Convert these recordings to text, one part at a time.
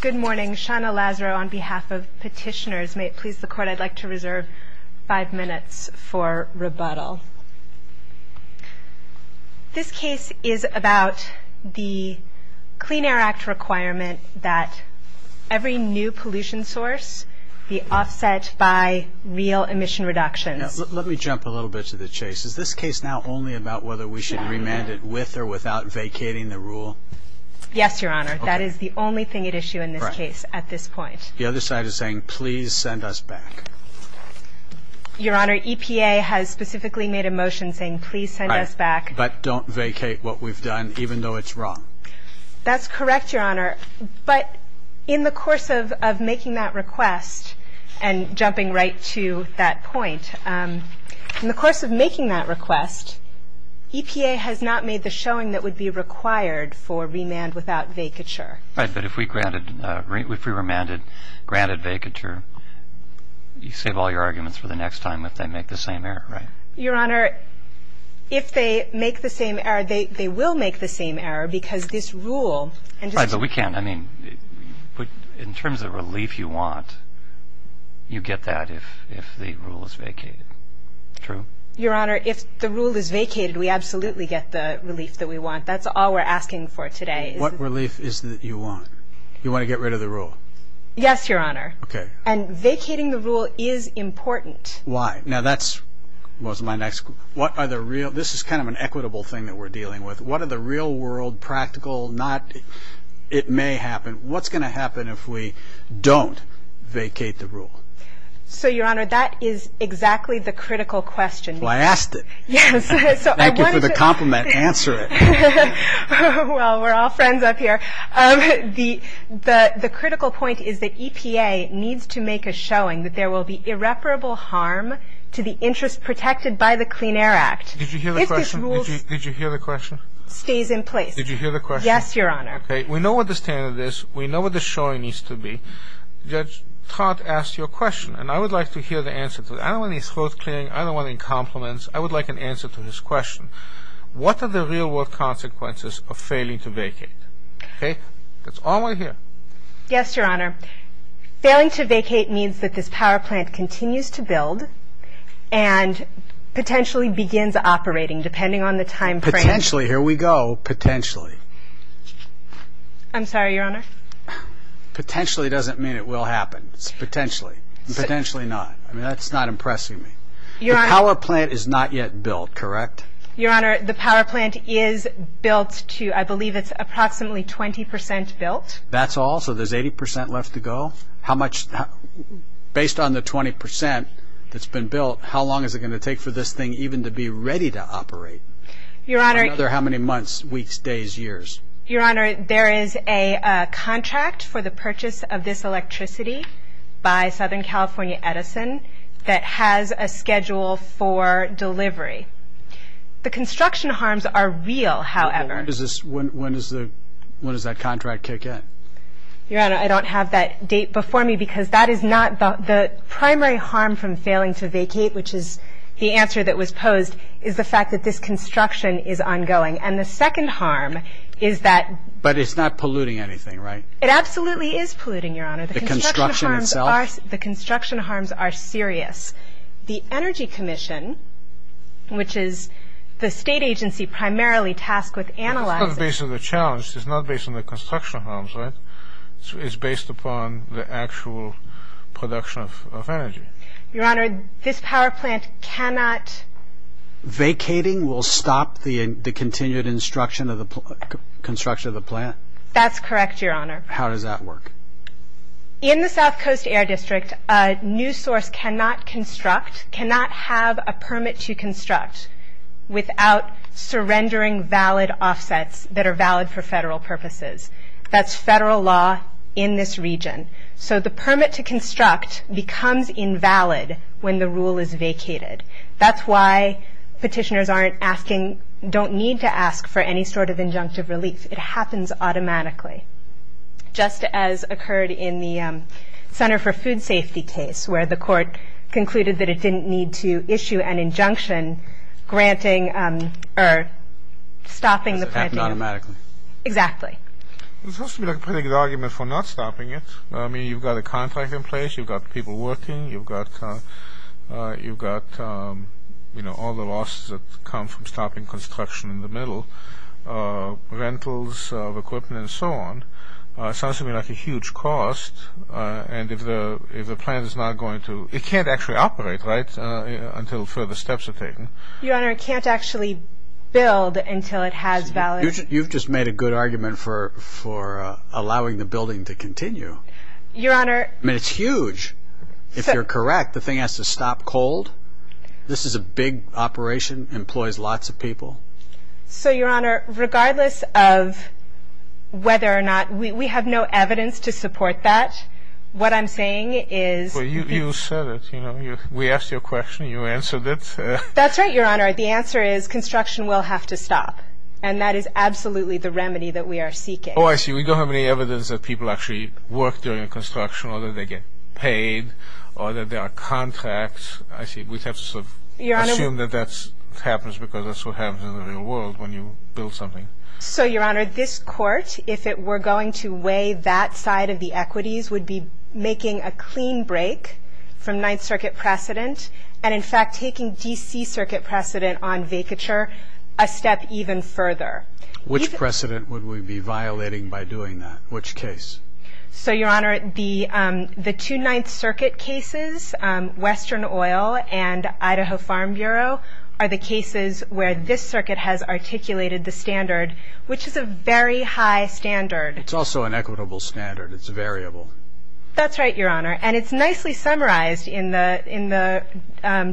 Good morning, Shauna Lazaro on behalf of Petitioners. May it please the Court I'd like to reserve five minutes for rebuttal. This case is about the Clean Air Act requirement that every new pollution source be offset by real emission reductions. Let me jump a little bit to the chase. Is this case now only about whether we should remand it with or without vacating the rule? Yes, Your Honor. That is the only thing at issue in this case at this point. The other side is saying please send us back. Your Honor, EPA has specifically made a motion saying please send us back. But don't vacate what we've done even though it's wrong. That's correct, Your Honor. But in the course of making that request and jumping right to that point, in the course of making that request, EPA has not made the showing that would be required for remand without vacature. But if we remanded granted vacature, you save all your arguments for the next time if they make the same error, right? Your Honor, if they make the same error, they will make the same error because this rule Right, but we can't. I mean, in terms of relief you want, you get that if the rule is vacated. True? Your Honor, if the rule is vacated, we absolutely get the relief that we want. That's all we're asking for today. What relief is it that you want? You want to get rid of the rule? Yes, Your Honor. And vacating the rule is important. Why? Now that's, what's my next, what are the real, this is kind of an equitable thing that we're dealing with. What are the real world, practical, not, it may happen. What's going to happen if we don't vacate the rule? So, Your Honor, that is exactly the critical question. Well, I asked it. Thank you for the compliment. Answer it. Well, we're all friends up here. The critical point is that EPA needs to make a showing that there will be irreparable harm to the interest protected by the Clean Air Act. Did you hear the question? If this rule stays in place. Did you hear the question? Yes, Your Honor. Okay, we know what the standard is. We know what the showing needs to be. Judge Todd asked you a question, and I would like to hear the answer to it. I don't want any throat clearing. I don't want any compliments. I would like an answer to his question. What are the real world consequences of failing to vacate? Okay? That's all I hear. Yes, Your Honor. Failing to vacate means that this power plant continues to build and potentially begins operating depending on the time frame. Potentially. Here we go. Potentially. I'm sorry, Your Honor. Potentially doesn't mean it will happen. It's potentially. Potentially not. I mean, that's not impressing me. Your Honor. The power plant is not yet built, correct? Your Honor, the power plant is built to, I believe it's approximately 20 percent built. That's all? So there's 80 percent left to go? How much, based on the 20 percent that's been built, how long is it going to take for this thing even to be ready to operate? Your Honor. Another how many months, weeks, days, years? Your Honor, there is a contract for the purchase of this electricity by Southern California Edison that has a schedule for delivery. The construction harms are real, however. When does that contract kick in? Your Honor, I don't have that date before me because that is not the primary harm from failing to vacate, which is the answer that was posed, is the fact that this construction is ongoing. And the second harm is that. But it's not polluting anything, right? It absolutely is polluting, Your Honor. The construction harms are. The Energy Commission, which is the state agency primarily tasked with analyzing. It's not based on the challenge. It's not based on the construction harms, right? It's based upon the actual production of energy. Your Honor, this power plant cannot. Vacating will stop the continued construction of the plant? That's correct, Your Honor. How does that work? In the South Coast Air District, a new source cannot construct, cannot have a permit to construct without surrendering valid offsets that are valid for federal purposes. That's federal law in this region. So the permit to construct becomes invalid when the rule is vacated. That's why petitioners aren't asking, don't need to ask for any sort of injunctive relief. It happens automatically. Just as occurred in the Center for Food Safety case where the court concluded that it didn't need to issue an injunction granting or stopping the plant. It happens automatically. Exactly. It's supposed to be a pretty good argument for not stopping it. I mean, you've got a contract in place. You've got people working. You've got, you know, all the losses that come from stopping construction in the middle. Rentals of equipment and so on. It sounds to me like a huge cost. And if the plant is not going to, it can't actually operate, right, until further steps are taken. Your Honor, it can't actually build until it has valid. You've just made a good argument for allowing the building to continue. Your Honor. I mean, it's huge. If you're correct, the thing has to stop cold. This is a big operation. It employs lots of people. So, Your Honor, regardless of whether or not we have no evidence to support that, what I'm saying is... Well, you said it. We asked you a question. You answered it. That's right, Your Honor. The answer is construction will have to stop. And that is absolutely the remedy that we are seeking. Oh, I see. We don't have any evidence that people actually work during construction or that they get paid or that there are contracts. I see. We have to assume that that happens because that's what happens in the real world when you build something. So, Your Honor, this court, if it were going to weigh that side of the equities, would be making a clean break from Ninth Circuit precedent and, in fact, taking D.C. Circuit precedent on vacature a step even further. Which precedent would we be violating by doing that? Which case? So, Your Honor, the two Ninth Circuit cases, Western Oil and Idaho Farm Bureau, are the cases where this circuit has articulated the standard, which is a very high standard. It's also an equitable standard. It's a variable. That's right, Your Honor. And it's nicely summarized in the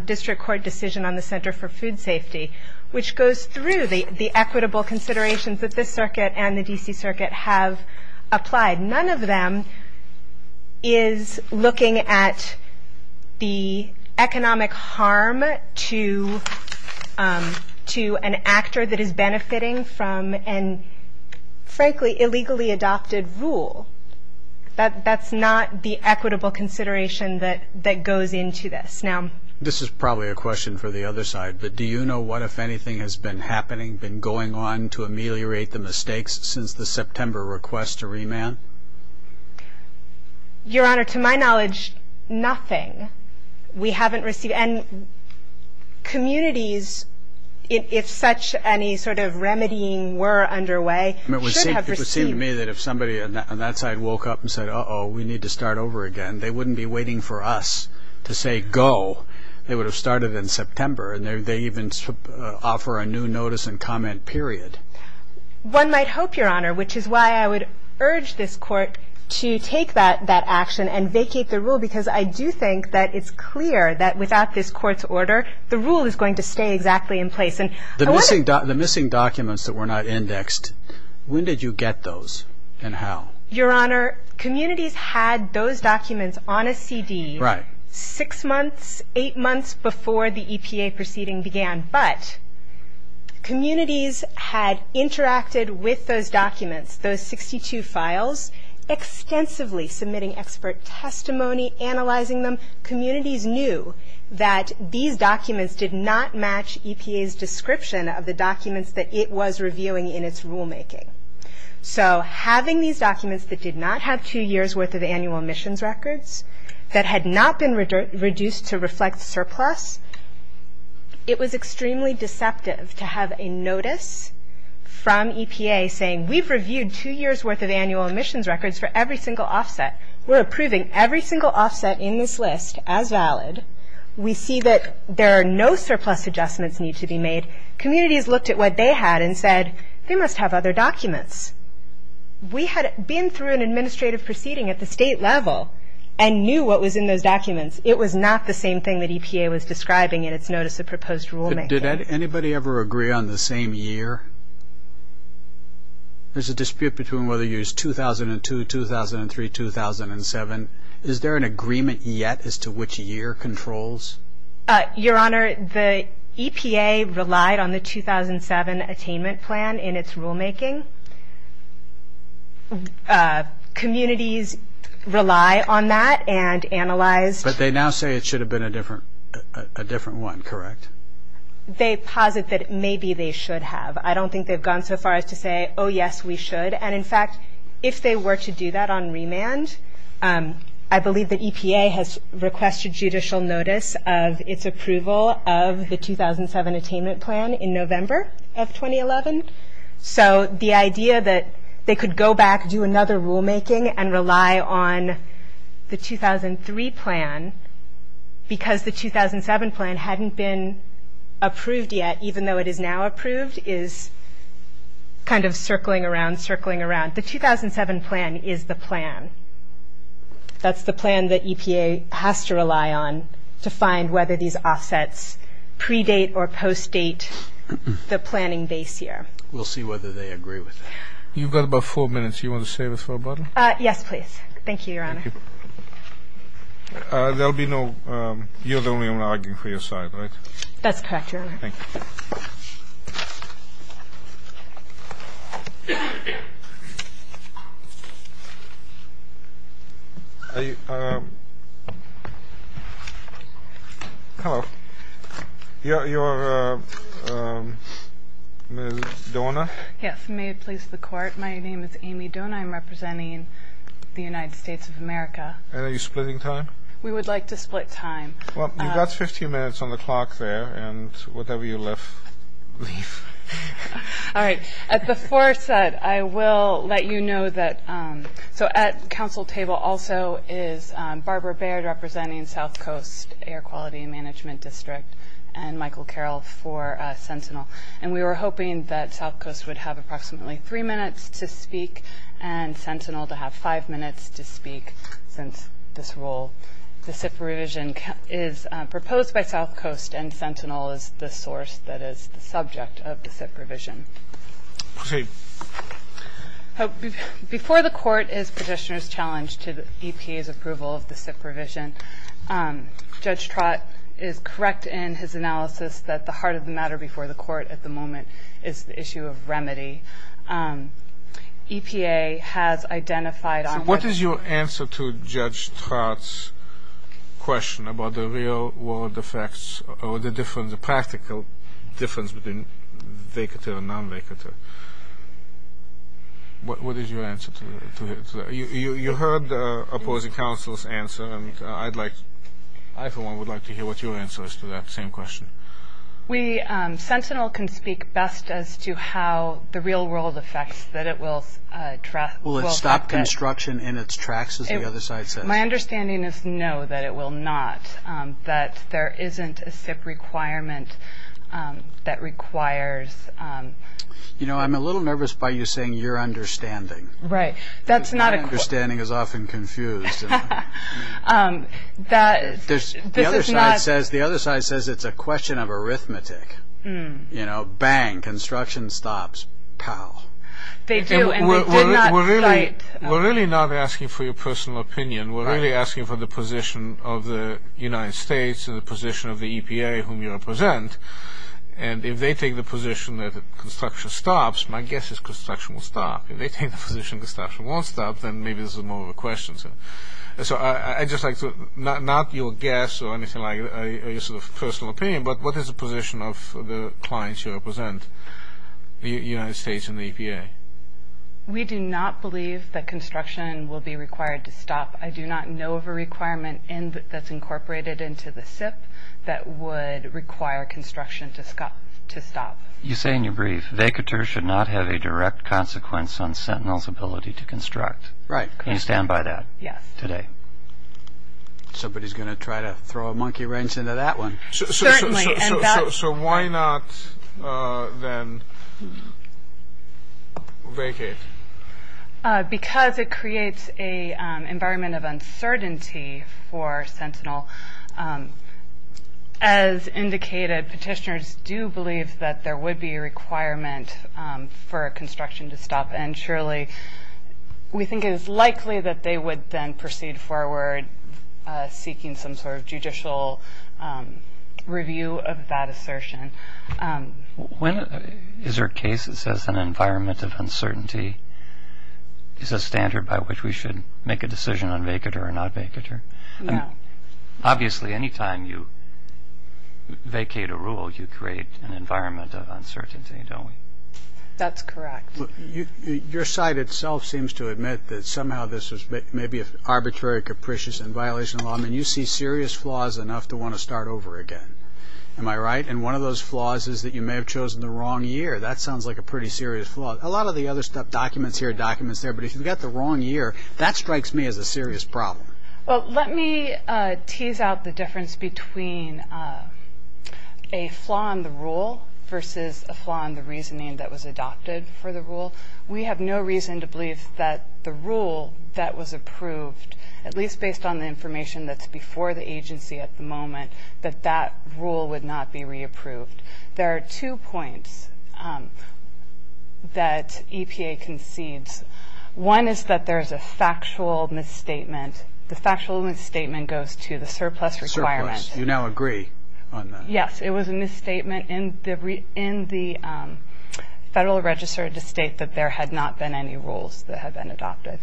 District Court decision on the Center for Food Safety, which goes through the equitable considerations that this circuit and the D.C. Circuit have applied. None of them is looking at the economic harm to an actor that is benefiting from an, frankly, illegally adopted rule. That's not the equitable consideration that goes into this. Now, this is probably a question for the other side, but do you know what, if anything, has been happening, been going on to ameliorate the mistakes since the September request to remand? Your Honor, to my knowledge, nothing. We haven't received any. Communities, if such any sort of remedying were underway, should have received. It would seem to me that if somebody on that side woke up and said, uh-oh, we need to start over again, they wouldn't be waiting for us to say go. They would have started in September, and they even offer a new notice and comment period. One might hope, Your Honor, which is why I would urge this Court to take that action and vacate the rule because I do think that it's clear that without this Court's order, the rule is going to stay exactly in place. The missing documents that were not indexed, when did you get those and how? Your Honor, communities had those documents on a CD six months, eight months before the EPA proceeding began, but communities had interacted with those documents, those 62 files, extensively submitting expert testimony, analyzing them. Communities knew that these documents did not match EPA's description of the documents that it was reviewing in its rulemaking. So having these documents that did not have two years' worth of annual emissions records, that had not been reduced to reflect surplus, it was extremely deceptive to have a notice from EPA saying, we've reviewed two years' worth of annual emissions records for every single offset. We're approving every single offset in this list as valid. We see that there are no surplus adjustments need to be made. Communities looked at what they had and said, they must have other documents. We had been through an administrative proceeding at the state level and knew what was in those documents. It was not the same thing that EPA was describing in its notice of proposed rulemaking. Did anybody ever agree on the same year? There's a dispute between whether you used 2002, 2003, 2007. Is there an agreement yet as to which year controls? Your Honor, the EPA relied on the 2007 attainment plan in its rulemaking. Communities rely on that and analyze. But they now say it should have been a different one, correct? They posit that maybe they should have. I don't think they've gone so far as to say, oh, yes, we should. And, in fact, if they were to do that on remand, I believe the EPA has requested judicial notice of its approval of the 2007 attainment plan in November of 2011. So the idea that they could go back, do another rulemaking, and rely on the 2003 plan, because the 2007 plan hadn't been approved yet, even though it is now approved, is kind of circling around, circling around. The 2007 plan is the plan. That's the plan that EPA has to rely on to find whether these offsets predate or postdate the planning base year. We'll see whether they agree with that. You've got about four minutes. You want to save it for a button? Yes, please. Thank you, Your Honor. You're the only one arguing for your side, right? That's correct, Your Honor. Thank you. Hello. You're Ms. Dona? Yes, may it please the Court. My name is Amy Dona. I'm representing the United States of America. And are you splitting time? We would like to split time. Well, you've got 15 minutes on the clock there, and whatever you leave. All right. As before said, I will let you know that at the council table also is Barbara Baird, representing South Coast Air Quality Management District, and Michael Carroll for Sentinel. And we were hoping that South Coast would have approximately three minutes to speak and Sentinel to have five minutes to speak since this rule. The SIP revision is proposed by South Coast, and Sentinel is the source that is the subject of the SIP revision. Proceed. Before the Court is petitioner's challenge to EPA's approval of the SIP revision. Judge Trott is correct in his analysis that the heart of the matter before the Court at the moment is the issue of remedy. EPA has identified on what- So what is your answer to Judge Trott's question about the real world effects or the practical difference between vacater and non-vacater? What is your answer to that? You heard the opposing counsel's answer, and I for one would like to hear what your answer is to that same question. Sentinel can speak best as to how the real world effects that it will- Will it stop construction in its tracks, as the other side says? My understanding is no, that it will not, that there isn't a SIP requirement that requires- You know, I'm a little nervous by you saying your understanding. Right, that's not a- My understanding is often confused. This is not- The other side says it's a question of arithmetic. You know, bang, construction stops, pow. They do, and they did not cite- We're really not asking for your personal opinion. We're really asking for the position of the United States and the position of the EPA whom you represent. And if they take the position that construction stops, my guess is construction will stop. If they take the position that construction won't stop, then maybe this is more of a question. So I'd just like to- Not your guess or anything like that or your sort of personal opinion, but what is the position of the clients you represent, the United States and the EPA? We do not believe that construction will be required to stop. I do not know of a requirement that's incorporated into the SIP that would require construction to stop. You say in your brief, vacatures should not have a direct consequence on Sentinel's ability to construct. Right. Can you stand by that? Yes. Today. Somebody's going to try to throw a monkey wrench into that one. Certainly. So why not then vacate? Because it creates an environment of uncertainty for Sentinel. As indicated, petitioners do believe that there would be a requirement for construction to stop, and surely we think it is likely that they would then proceed forward seeking some sort of judicial review of that assertion. Is there a case that says an environment of uncertainty is a standard by which we should make a decision on vacater or not vacater? No. Obviously, any time you vacate a rule, you create an environment of uncertainty, don't we? That's correct. Your site itself seems to admit that somehow this was maybe arbitrary, capricious, and violation of law. I mean, you see serious flaws enough to want to start over again. Am I right? And one of those flaws is that you may have chosen the wrong year. That sounds like a pretty serious flaw. A lot of the other stuff, documents here, documents there, but if you've got the wrong year, that strikes me as a serious problem. Well, let me tease out the difference between a flaw in the rule versus a flaw in the reasoning that was adopted for the rule. We have no reason to believe that the rule that was approved, at least based on the information that's before the agency at the moment, that that rule would not be re-approved. There are two points that EPA concedes. One is that there is a factual misstatement. The factual misstatement goes to the surplus requirement. Surplus. You now agree on that. Yes. It was a misstatement in the Federal Register to state that there had not been any rules that had been adopted.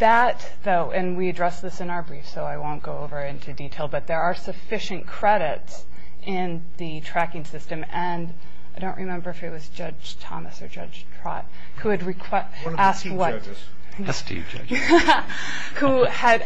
That, though, and we addressed this in our brief, so I won't go over it into detail, but there are sufficient credits in the tracking system. I don't remember if it was Judge Thomas or Judge Trott who had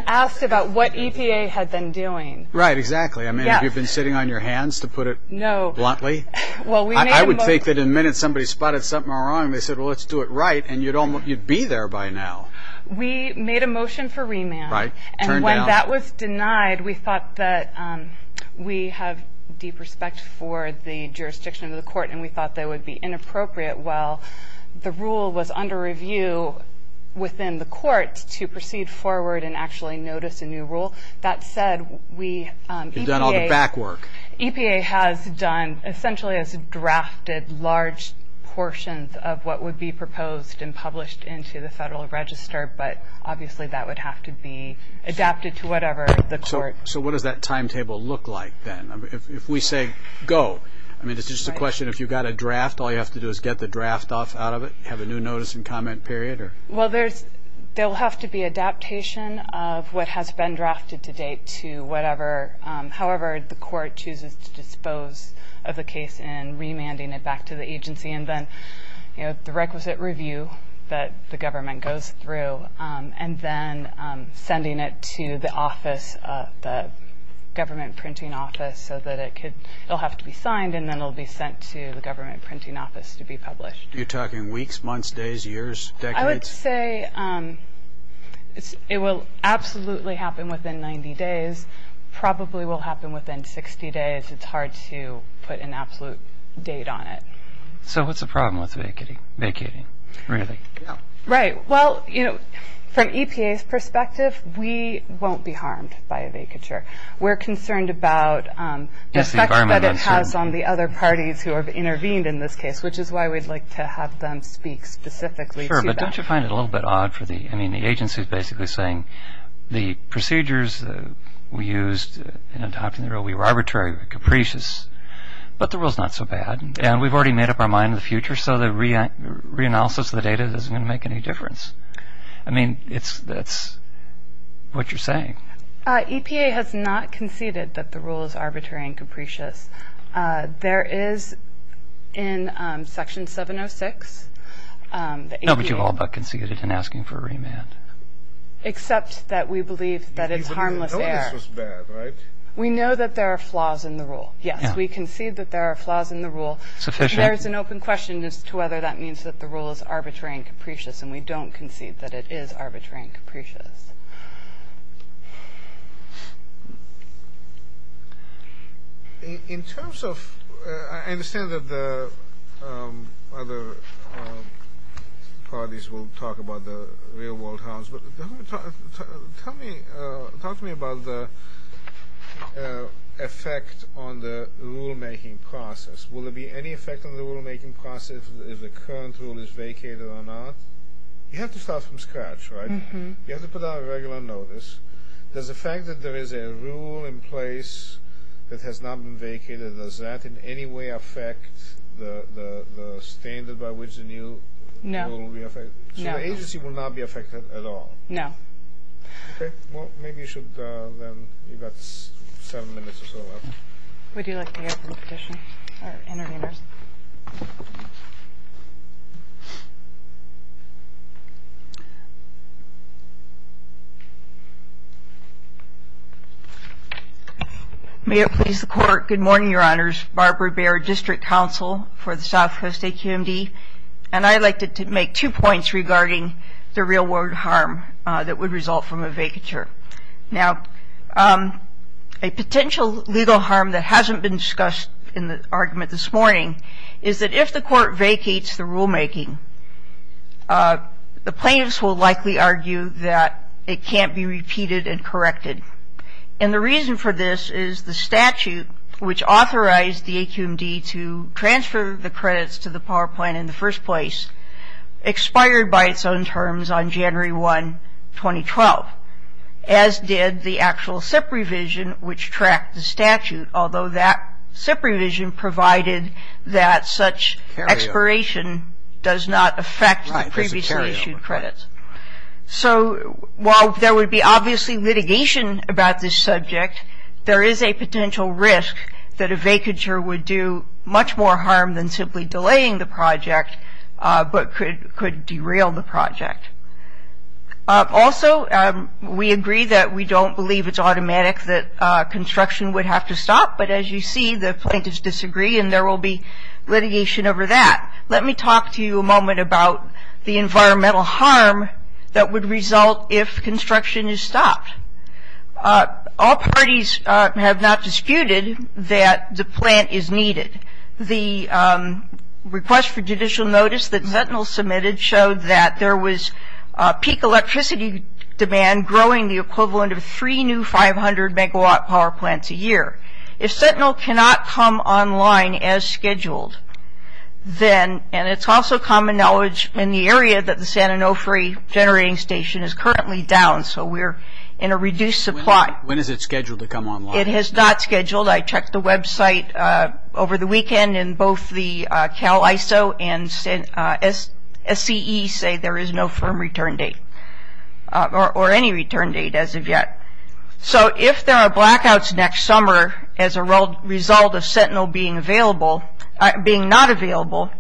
asked about what EPA had been doing. Right, exactly. Have you been sitting on your hands, to put it bluntly? No. I would think that in a minute somebody spotted something wrong and they said, well, let's do it right, and you'd be there by now. We made a motion for remand. Right. Turned down. That was denied. We thought that we have deep respect for the jurisdiction of the court and we thought that it would be inappropriate while the rule was under review within the court to proceed forward and actually notice a new rule. That said, EPA has done essentially has drafted large portions of what would be proposed and published into the Federal Register, but obviously that would have to be adapted to whatever the court. So what does that timetable look like then? If we say go, I mean, it's just a question, if you've got a draft, all you have to do is get the draft off out of it, have a new notice and comment period? Well, there will have to be adaptation of what has been drafted to date to whatever, however the court chooses to dispose of the case and remanding it back to the agency and then the requisite review that the government goes through and then sending it to the office, the government printing office, so that it will have to be signed and then it will be sent to the government printing office to be published. You're talking weeks, months, days, years, decades? I would say it will absolutely happen within 90 days, probably will happen within 60 days. It's hard to put an absolute date on it. So what's the problem with vacating, really? Right, well, you know, from EPA's perspective, we won't be harmed by a vacature. We're concerned about the effect that it has on the other parties who have intervened in this case, which is why we'd like to have them speak specifically to that. Sure, but don't you find it a little bit odd for the, I mean, the agency is basically saying the procedures we used in adopting the rule, we were arbitrary, we were capricious, but the rule's not so bad, and we've already made up our mind in the future, so the reanalysis of the data isn't going to make any difference. I mean, that's what you're saying. EPA has not conceded that the rule is arbitrary and capricious. There is, in Section 706, the EPA... No, but you've all but conceded in asking for a remand. Except that we believe that it's harmless error. We know this was bad, right? Yes, we concede that there are flaws in the rule. There is an open question as to whether that means that the rule is arbitrary and capricious, and we don't concede that it is arbitrary and capricious. In terms of, I understand that the other parties will talk about the real-world harms, but talk to me about the effect on the rule-making process. Will there be any effect on the rule-making process if the current rule is vacated or not? You have to start from scratch, right? You have to put out a regular notice. Does the fact that there is a rule in place that has not been vacated, does that in any way affect the standard by which the new rule will be effected? No. So the agency will not be effected at all? No. Okay. Well, maybe you should then, you've got seven minutes or so left. We do like to hear from the petition, or intervenors. May it please the Court. Good morning, Your Honors. Barbara Baird, District Counsel for the Southwest AQMD. And I'd like to make two points regarding the real-world harm that would result from a vacature. Now, a potential legal harm that hasn't been discussed in the argument this morning is that if the Court vacates the rule-making, the plaintiffs will likely argue that it can't be repeated and corrected. And the reason for this is the statute which authorized the AQMD to transfer the credits to the power plan in the first place expired by its own terms on January 1, 2012, as did the actual SIP revision which tracked the statute, although that SIP revision provided that such expiration does not affect the previously issued credits. So while there would be obviously litigation about this subject, there is a potential risk that a vacature would do much more harm than simply delaying the project but could derail the project. Also, we agree that we don't believe it's automatic that construction would have to stop, but as you see, the plaintiffs disagree and there will be litigation over that. Let me talk to you a moment about the environmental harm that would result if construction is stopped. All parties have not disputed that the plant is needed. The request for judicial notice that Sentinel submitted showed that there was peak electricity demand growing the equivalent of three new 500-megawatt power plants a year. If Sentinel cannot come online as scheduled, then, and it's also common knowledge in the area that the San Onofre generating station is currently down, so we're in a reduced supply. When is it scheduled to come online? It is not scheduled. I checked the website over the weekend and both the Cal ISO and SCE say there is no firm return date or any return date as of yet. So if there are blackouts next summer as a result of Sentinel being not available,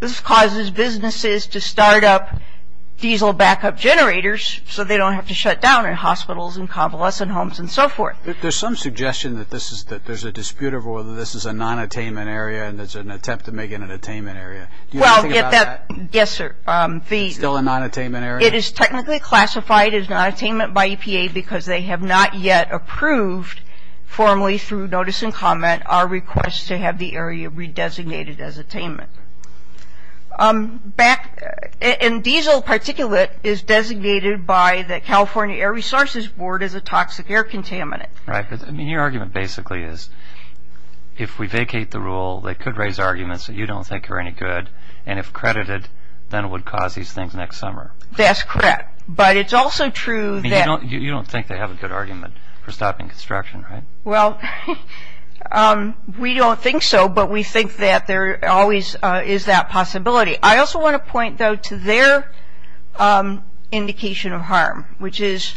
this causes businesses to start up diesel backup generators so they don't have to shut down in hospitals and convalescent homes and so forth. There's some suggestion that there's a dispute over whether this is a non-attainment area and there's an attempt to make it an attainment area. Do you know anything about that? Yes, sir. Still a non-attainment area? It is technically classified as non-attainment by EPA because they have not yet approved formally through notice and comment our request to have the area re-designated as attainment. Diesel particulate is designated by the California Air Resources Board as a toxic air contaminant. Your argument basically is if we vacate the rule, they could raise arguments that you don't think are any good, and if credited, then it would cause these things next summer. That's correct, but it's also true that... You don't think they have a good argument for stopping construction, right? Well, we don't think so, but we think that there always is that possibility. I also want to point, though, to their indication of harm, which is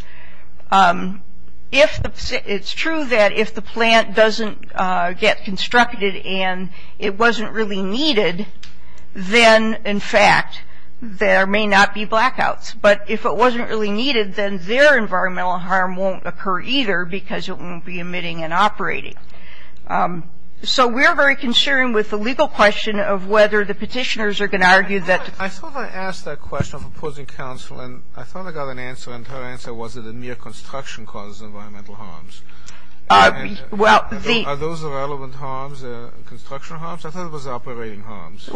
it's true that if the plant doesn't get constructed and it wasn't really needed, then, in fact, there may not be blackouts. But if it wasn't really needed, then their environmental harm won't occur either because it won't be emitting and operating. So we're very concerned with the legal question of whether the petitioners are going to argue that... I thought I asked that question of opposing counsel, and I thought I got an answer, and her answer was that the mere construction causes environmental harms. Well, the... Are those the relevant harms, the construction harms? I thought it was the operating harms.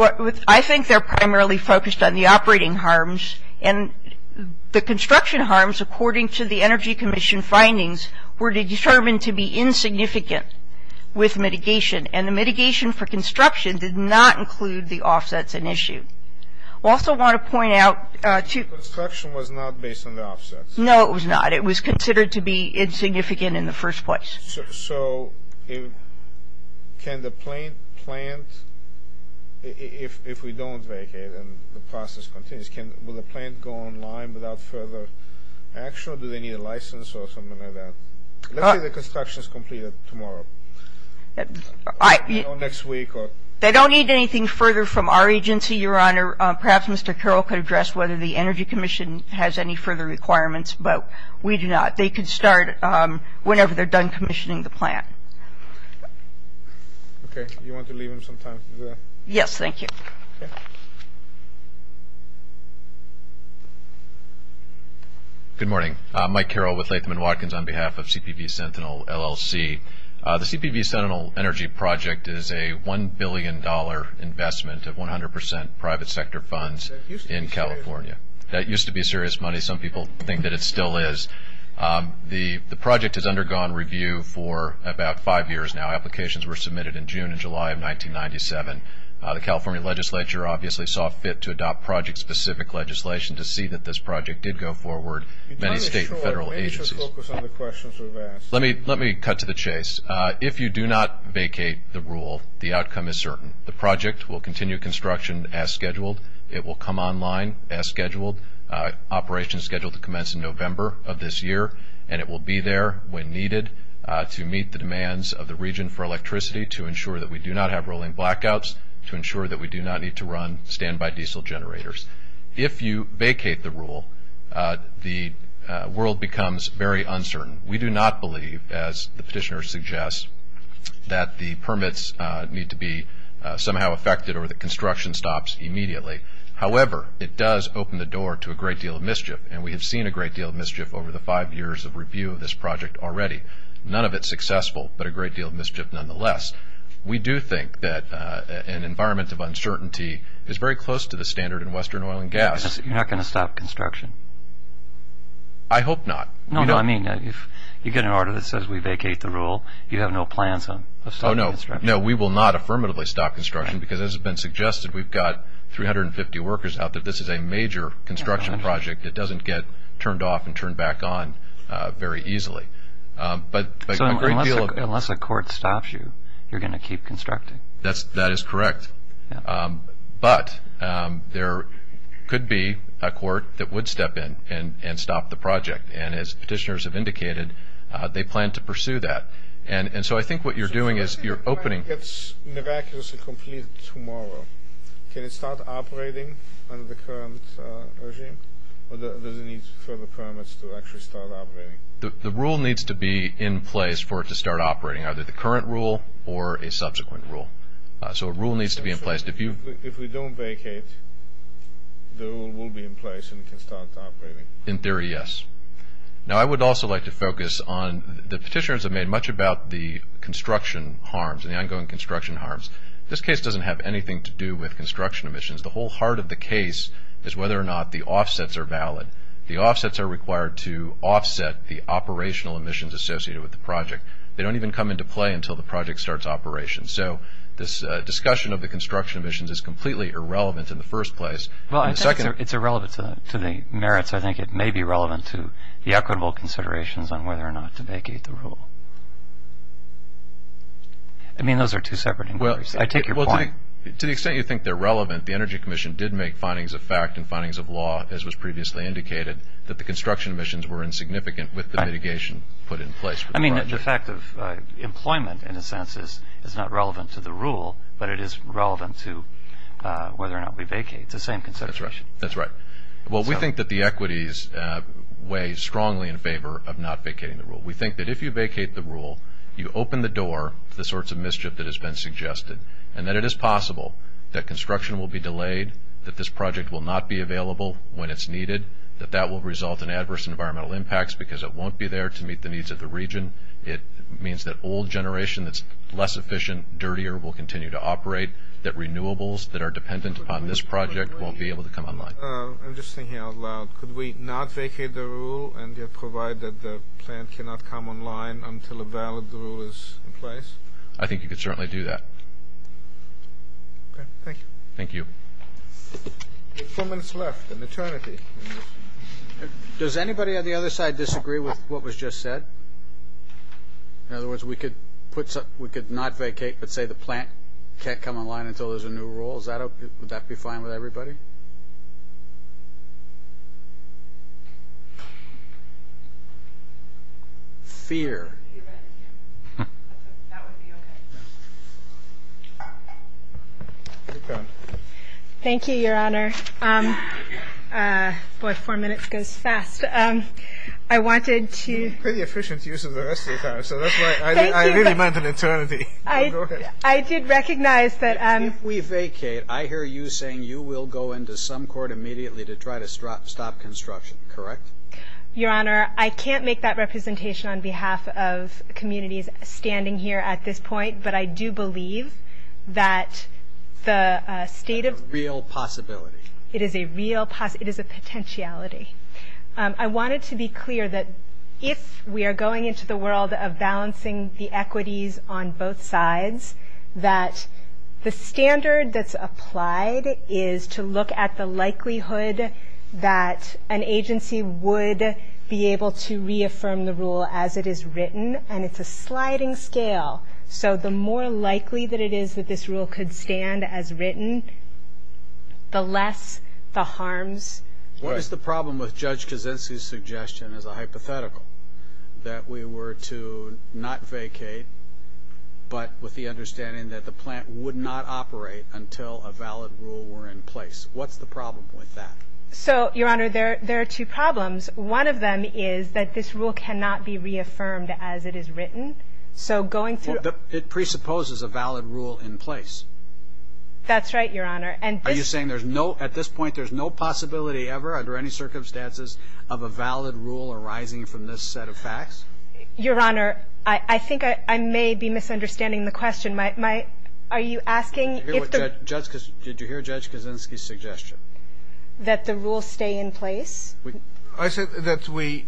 I think they're primarily focused on the operating harms, and the construction harms, according to the Energy Commission findings, were determined to be insignificant with mitigation, and the mitigation for construction did not include the offsets in issue. I also want to point out to... Construction was not based on the offsets. No, it was not. It was considered to be insignificant in the first place. So can the plant, if we don't vacate and the process continues, will the plant go online without further action, or do they need a license or something like that? Let's say the construction is completed tomorrow, or next week, or... They don't need anything further from our agency, Your Honor. Perhaps Mr. Carroll could address whether the Energy Commission has any further requirements, but we do not. They can start whenever they're done commissioning the plant. Okay. Do you want to leave him some time for that? Yes, thank you. Okay. Good morning. I'm Mike Carroll with Latham & Watkins on behalf of CPV Sentinel, LLC. The CPV Sentinel Energy Project is a $1 billion investment of 100 percent private sector funds in California. That used to be serious money. Some people think that it still is. The project has undergone review for about five years now. Applications were submitted in June and July of 1997. The California legislature obviously saw fit to adopt project-specific legislation to see that this project did go forward. Many state and federal agencies... Let me just focus on the questions we've asked. Let me cut to the chase. If you do not vacate the rule, the outcome is certain. The project will continue construction as scheduled. It will come online as scheduled. Operation is scheduled to commence in November of this year, and it will be there when needed to meet the demands of the region for electricity to ensure that we do not have rolling blackouts, to ensure that we do not need to run standby diesel generators. If you vacate the rule, the world becomes very uncertain. We do not believe, as the petitioner suggests, that the permits need to be somehow affected or that construction stops immediately. However, it does open the door to a great deal of mischief, and we have seen a great deal of mischief over the five years of review of this project already. None of it successful, but a great deal of mischief nonetheless. We do think that an environment of uncertainty is very close to the standard in Western oil and gas. You're not going to stop construction? I hope not. No, no, I mean, if you get an order that says we vacate the rule, you have no plans of stopping construction? Oh, no. No, we will not affirmatively stop construction because as has been suggested, we've got 350 workers out there. This is a major construction project. It doesn't get turned off and turned back on very easily. So unless a court stops you, you're going to keep constructing? That is correct. But there could be a court that would step in and stop the project, and as petitioners have indicated, they plan to pursue that. And so I think what you're doing is you're opening... So let's say the plan gets miraculously completed tomorrow. Can it start operating under the current regime, or does it need further permits to actually start operating? The rule needs to be in place for it to start operating, either the current rule or a subsequent rule. So a rule needs to be in place. If we don't vacate, the rule will be in place and it can start operating? In theory, yes. Now, I would also like to focus on the petitioners have made much about the construction harms and the ongoing construction harms. This case doesn't have anything to do with construction emissions. The whole heart of the case is whether or not the offsets are valid. The offsets are required to offset the operational emissions associated with the project. They don't even come into play until the project starts operation. So this discussion of the construction emissions is completely irrelevant in the first place. Well, I think it's irrelevant to the merits. I think it may be relevant to the equitable considerations on whether or not to vacate the rule. I mean, those are two separate inquiries. I take your point. Well, to the extent you think they're relevant, the Energy Commission did make findings of fact and findings of law, as was previously indicated, that the construction emissions were insignificant with the mitigation put in place for the project. I mean, the fact of employment, in a sense, is not relevant to the rule, but it is relevant to whether or not we vacate. It's the same consideration. That's right. Well, we think that the equities weigh strongly in favor of not vacating the rule. We think that if you vacate the rule, you open the door to the sorts of mischief that has been suggested and that it is possible that construction will be delayed, that this project will not be available when it's needed, that that will result in adverse environmental impacts because it won't be there to meet the needs of the region. It means that old generation that's less efficient, dirtier, will continue to operate, that renewables that are dependent upon this project won't be able to come online. I'm just thinking out loud. Could we not vacate the rule and yet provide that the plant cannot come online until a valid rule is in place? I think you could certainly do that. Okay. Thank you. Thank you. Four minutes left, an eternity. Does anybody on the other side disagree with what was just said? In other words, we could not vacate but say the plant can't come online until there's a new rule? Would that be fine with everybody? Fear. That would be okay. Thank you, Your Honor. Boy, four minutes goes fast. I wanted to- Pretty efficient use of the rest of your time, so that's why I really meant an eternity. Go ahead. I did recognize that- If we vacate, I hear you saying you will go into some court immediately to try to stop construction, correct? Your Honor, I can't make that representation on behalf of communities standing here at this point, but I do believe that the state of- It's a real possibility. It is a real possibility. It is a potentiality. I wanted to be clear that if we are going into the world of balancing the equities on both sides, that the standard that's applied is to look at the likelihood that an agency would be able to reaffirm the rule as it is written, and it's a sliding scale. So the more likely that it is that this rule could stand as written, the less the harms. What is the problem with Judge Kaczynski's suggestion as a hypothetical that we were to not vacate, but with the understanding that the plant would not operate until a valid rule were in place? What's the problem with that? So, Your Honor, there are two problems. One of them is that this rule cannot be reaffirmed as it is written. So going through- It presupposes a valid rule in place. That's right, Your Honor. Are you saying at this point there's no possibility ever under any circumstances of a valid rule arising from this set of facts? Your Honor, I think I may be misunderstanding the question. Are you asking if the- Did you hear Judge Kaczynski's suggestion? That the rule stay in place? I said that we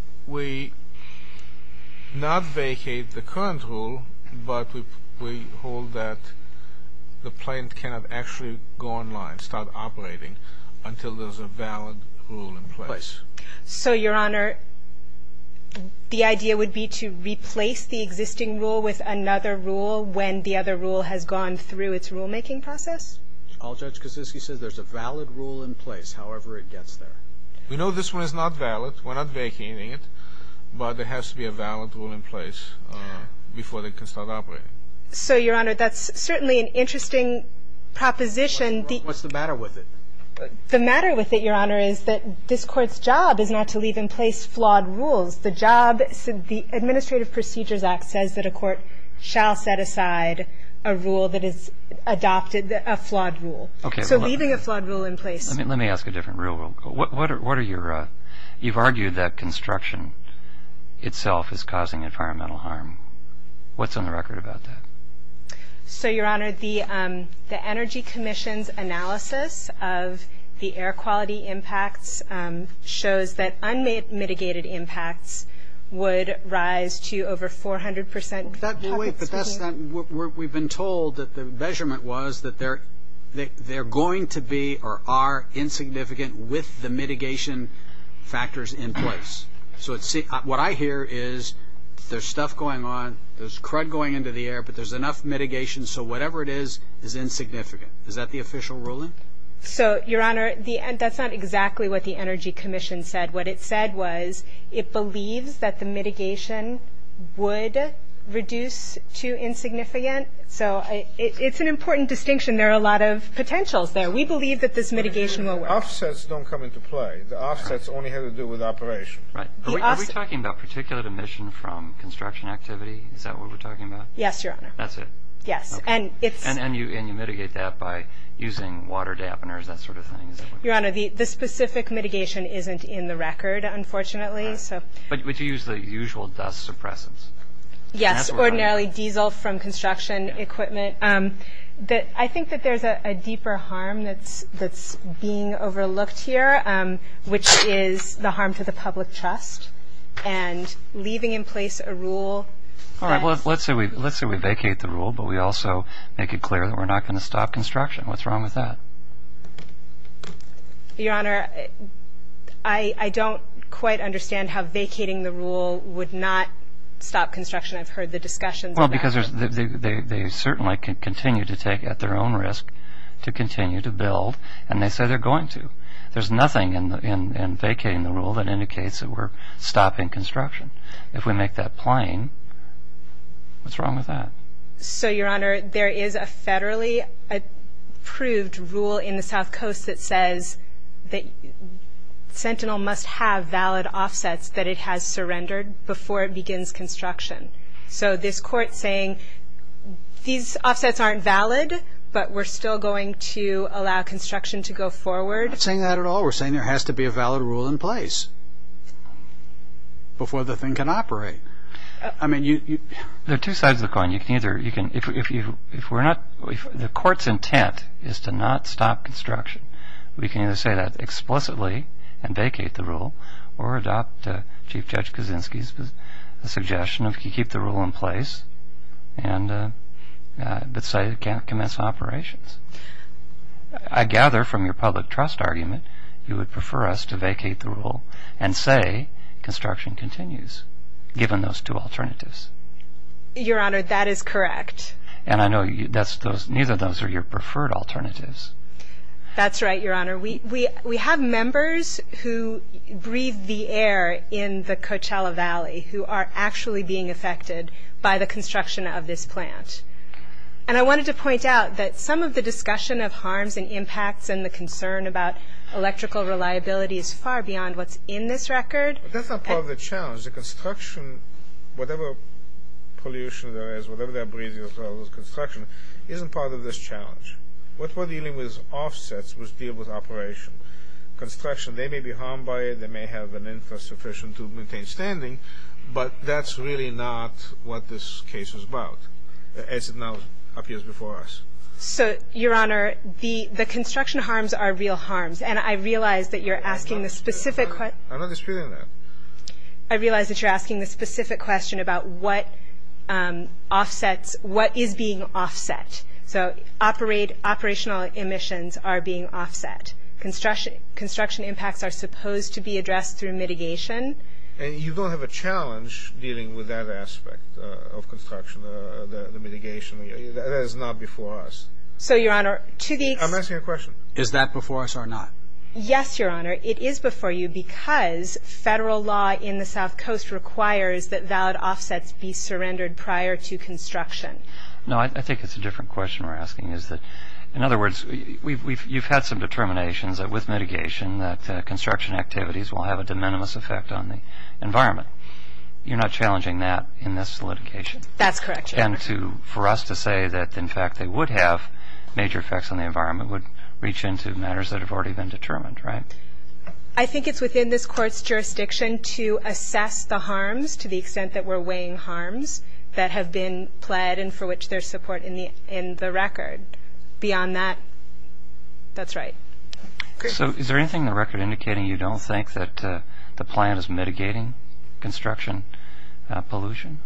not vacate the current rule, but we hold that the plant cannot actually go online, start operating, until there's a valid rule in place. So, Your Honor, the idea would be to replace the existing rule with another rule when the other rule has gone through its rulemaking process? All Judge Kaczynski says, there's a valid rule in place, however it gets there. We know this one is not valid. We're not vacating it, but there has to be a valid rule in place before they can start operating. So, Your Honor, that's certainly an interesting proposition. What's the matter with it? The matter with it, Your Honor, is that this Court's job is not to leave in place flawed rules. The job, the Administrative Procedures Act says that a court shall set aside a rule that is adopted, a flawed rule. Okay. So leaving a flawed rule in place- Let me ask a different rule. You've argued that construction itself is causing environmental harm. What's on the record about that? So, Your Honor, the Energy Commission's analysis of the air quality impacts shows that unmitigated impacts would rise to over 400 percent- We've been told that the measurement was that they're going to be or are insignificant with the mitigation factors in place. So what I hear is there's stuff going on, there's crud going into the air, but there's enough mitigation, so whatever it is is insignificant. Is that the official ruling? So, Your Honor, that's not exactly what the Energy Commission said. What it said was it believes that the mitigation would reduce to insignificant. So it's an important distinction. There are a lot of potentials there. We believe that this mitigation will work. Offsets don't come into play. The offsets only have to do with operation. Right. Are we talking about particulate emission from construction activity? Is that what we're talking about? Yes, Your Honor. That's it? Yes. And you mitigate that by using water dampeners, that sort of thing? Your Honor, the specific mitigation isn't in the record, unfortunately. But you use the usual dust suppressants? Yes, ordinarily diesel from construction equipment. I think that there's a deeper harm that's being overlooked here, which is the harm to the public trust, and leaving in place a rule that- All right, well, let's say we vacate the rule, but we also make it clear that we're not going to stop construction. What's wrong with that? Your Honor, I don't quite understand how vacating the rule would not stop construction. I've heard the discussions about it. Well, because they certainly continue to take at their own risk to continue to build, and they say they're going to. There's nothing in vacating the rule that indicates that we're stopping construction. If we make that plain, what's wrong with that? So, Your Honor, there is a federally approved rule in the South Coast that says that Sentinel must have valid offsets that it has surrendered before it begins construction. So this Court's saying these offsets aren't valid, but we're still going to allow construction to go forward. We're not saying that at all. We're saying there has to be a valid rule in place before the thing can operate. There are two sides of the coin. If the Court's intent is to not stop construction, we can either say that explicitly and vacate the rule or adopt Chief Judge Kaczynski's suggestion of he keep the rule in place, but say it can't commence operations. I gather from your public trust argument you would prefer us to vacate the rule and say construction continues, given those two alternatives. Your Honor, that is correct. And I know neither of those are your preferred alternatives. That's right, Your Honor. We have members who breathe the air in the Coachella Valley who are actually being affected by the construction of this plant. And I wanted to point out that some of the discussion of harms and impacts and the concern about electrical reliability is far beyond what's in this record. That's not part of the challenge. The construction, whatever pollution there is, whatever they're breathing as well as construction, isn't part of this challenge. What we're dealing with is offsets which deal with operation. Construction, they may be harmed by it. They may have an interest sufficient to maintain standing. But that's really not what this case is about, as it now appears before us. So, Your Honor, the construction harms are real harms. And I realize that you're asking a specific question. I'm not disputing that. I realize that you're asking a specific question about what offsets, what is being offset. So operational emissions are being offset. Construction impacts are supposed to be addressed through mitigation. And you don't have a challenge dealing with that aspect of construction, the mitigation. That is not before us. So, Your Honor, to the... I'm asking a question. Is that before us or not? Yes, Your Honor, it is before you because federal law in the South Coast requires that valid offsets be surrendered prior to construction. No, I think it's a different question we're asking. In other words, you've had some determinations with mitigation that construction activities will have a de minimis effect on the environment. You're not challenging that in this litigation? That's correct, Your Honor. And for us to say that, in fact, they would have major effects on the environment would reach into matters that have already been determined, right? I think it's within this court's jurisdiction to assess the harms to the extent that we're weighing harms that have been pled and for which there's support in the record. Beyond that, that's right. So is there anything in the record indicating you don't think that the plan is mitigating construction pollution?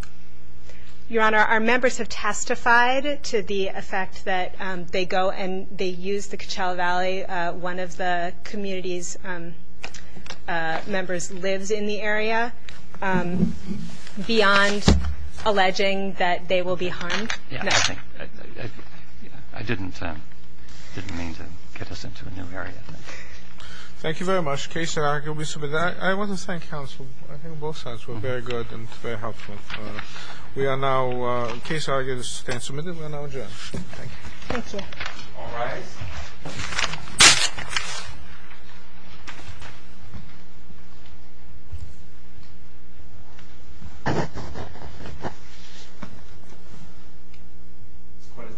Your Honor, our members have testified to the effect that they go and they use the Coachella Valley. One of the community's members lives in the area. Beyond alleging that they will be harmed, no. I didn't mean to get us into a new area. Thank you very much. I want to thank counsel. I think both sides were very good and very helpful. We are now case argued and submitted. We are now adjourned. Thank you. Thank you. All rise. This court is adjourned. This court is adjourned.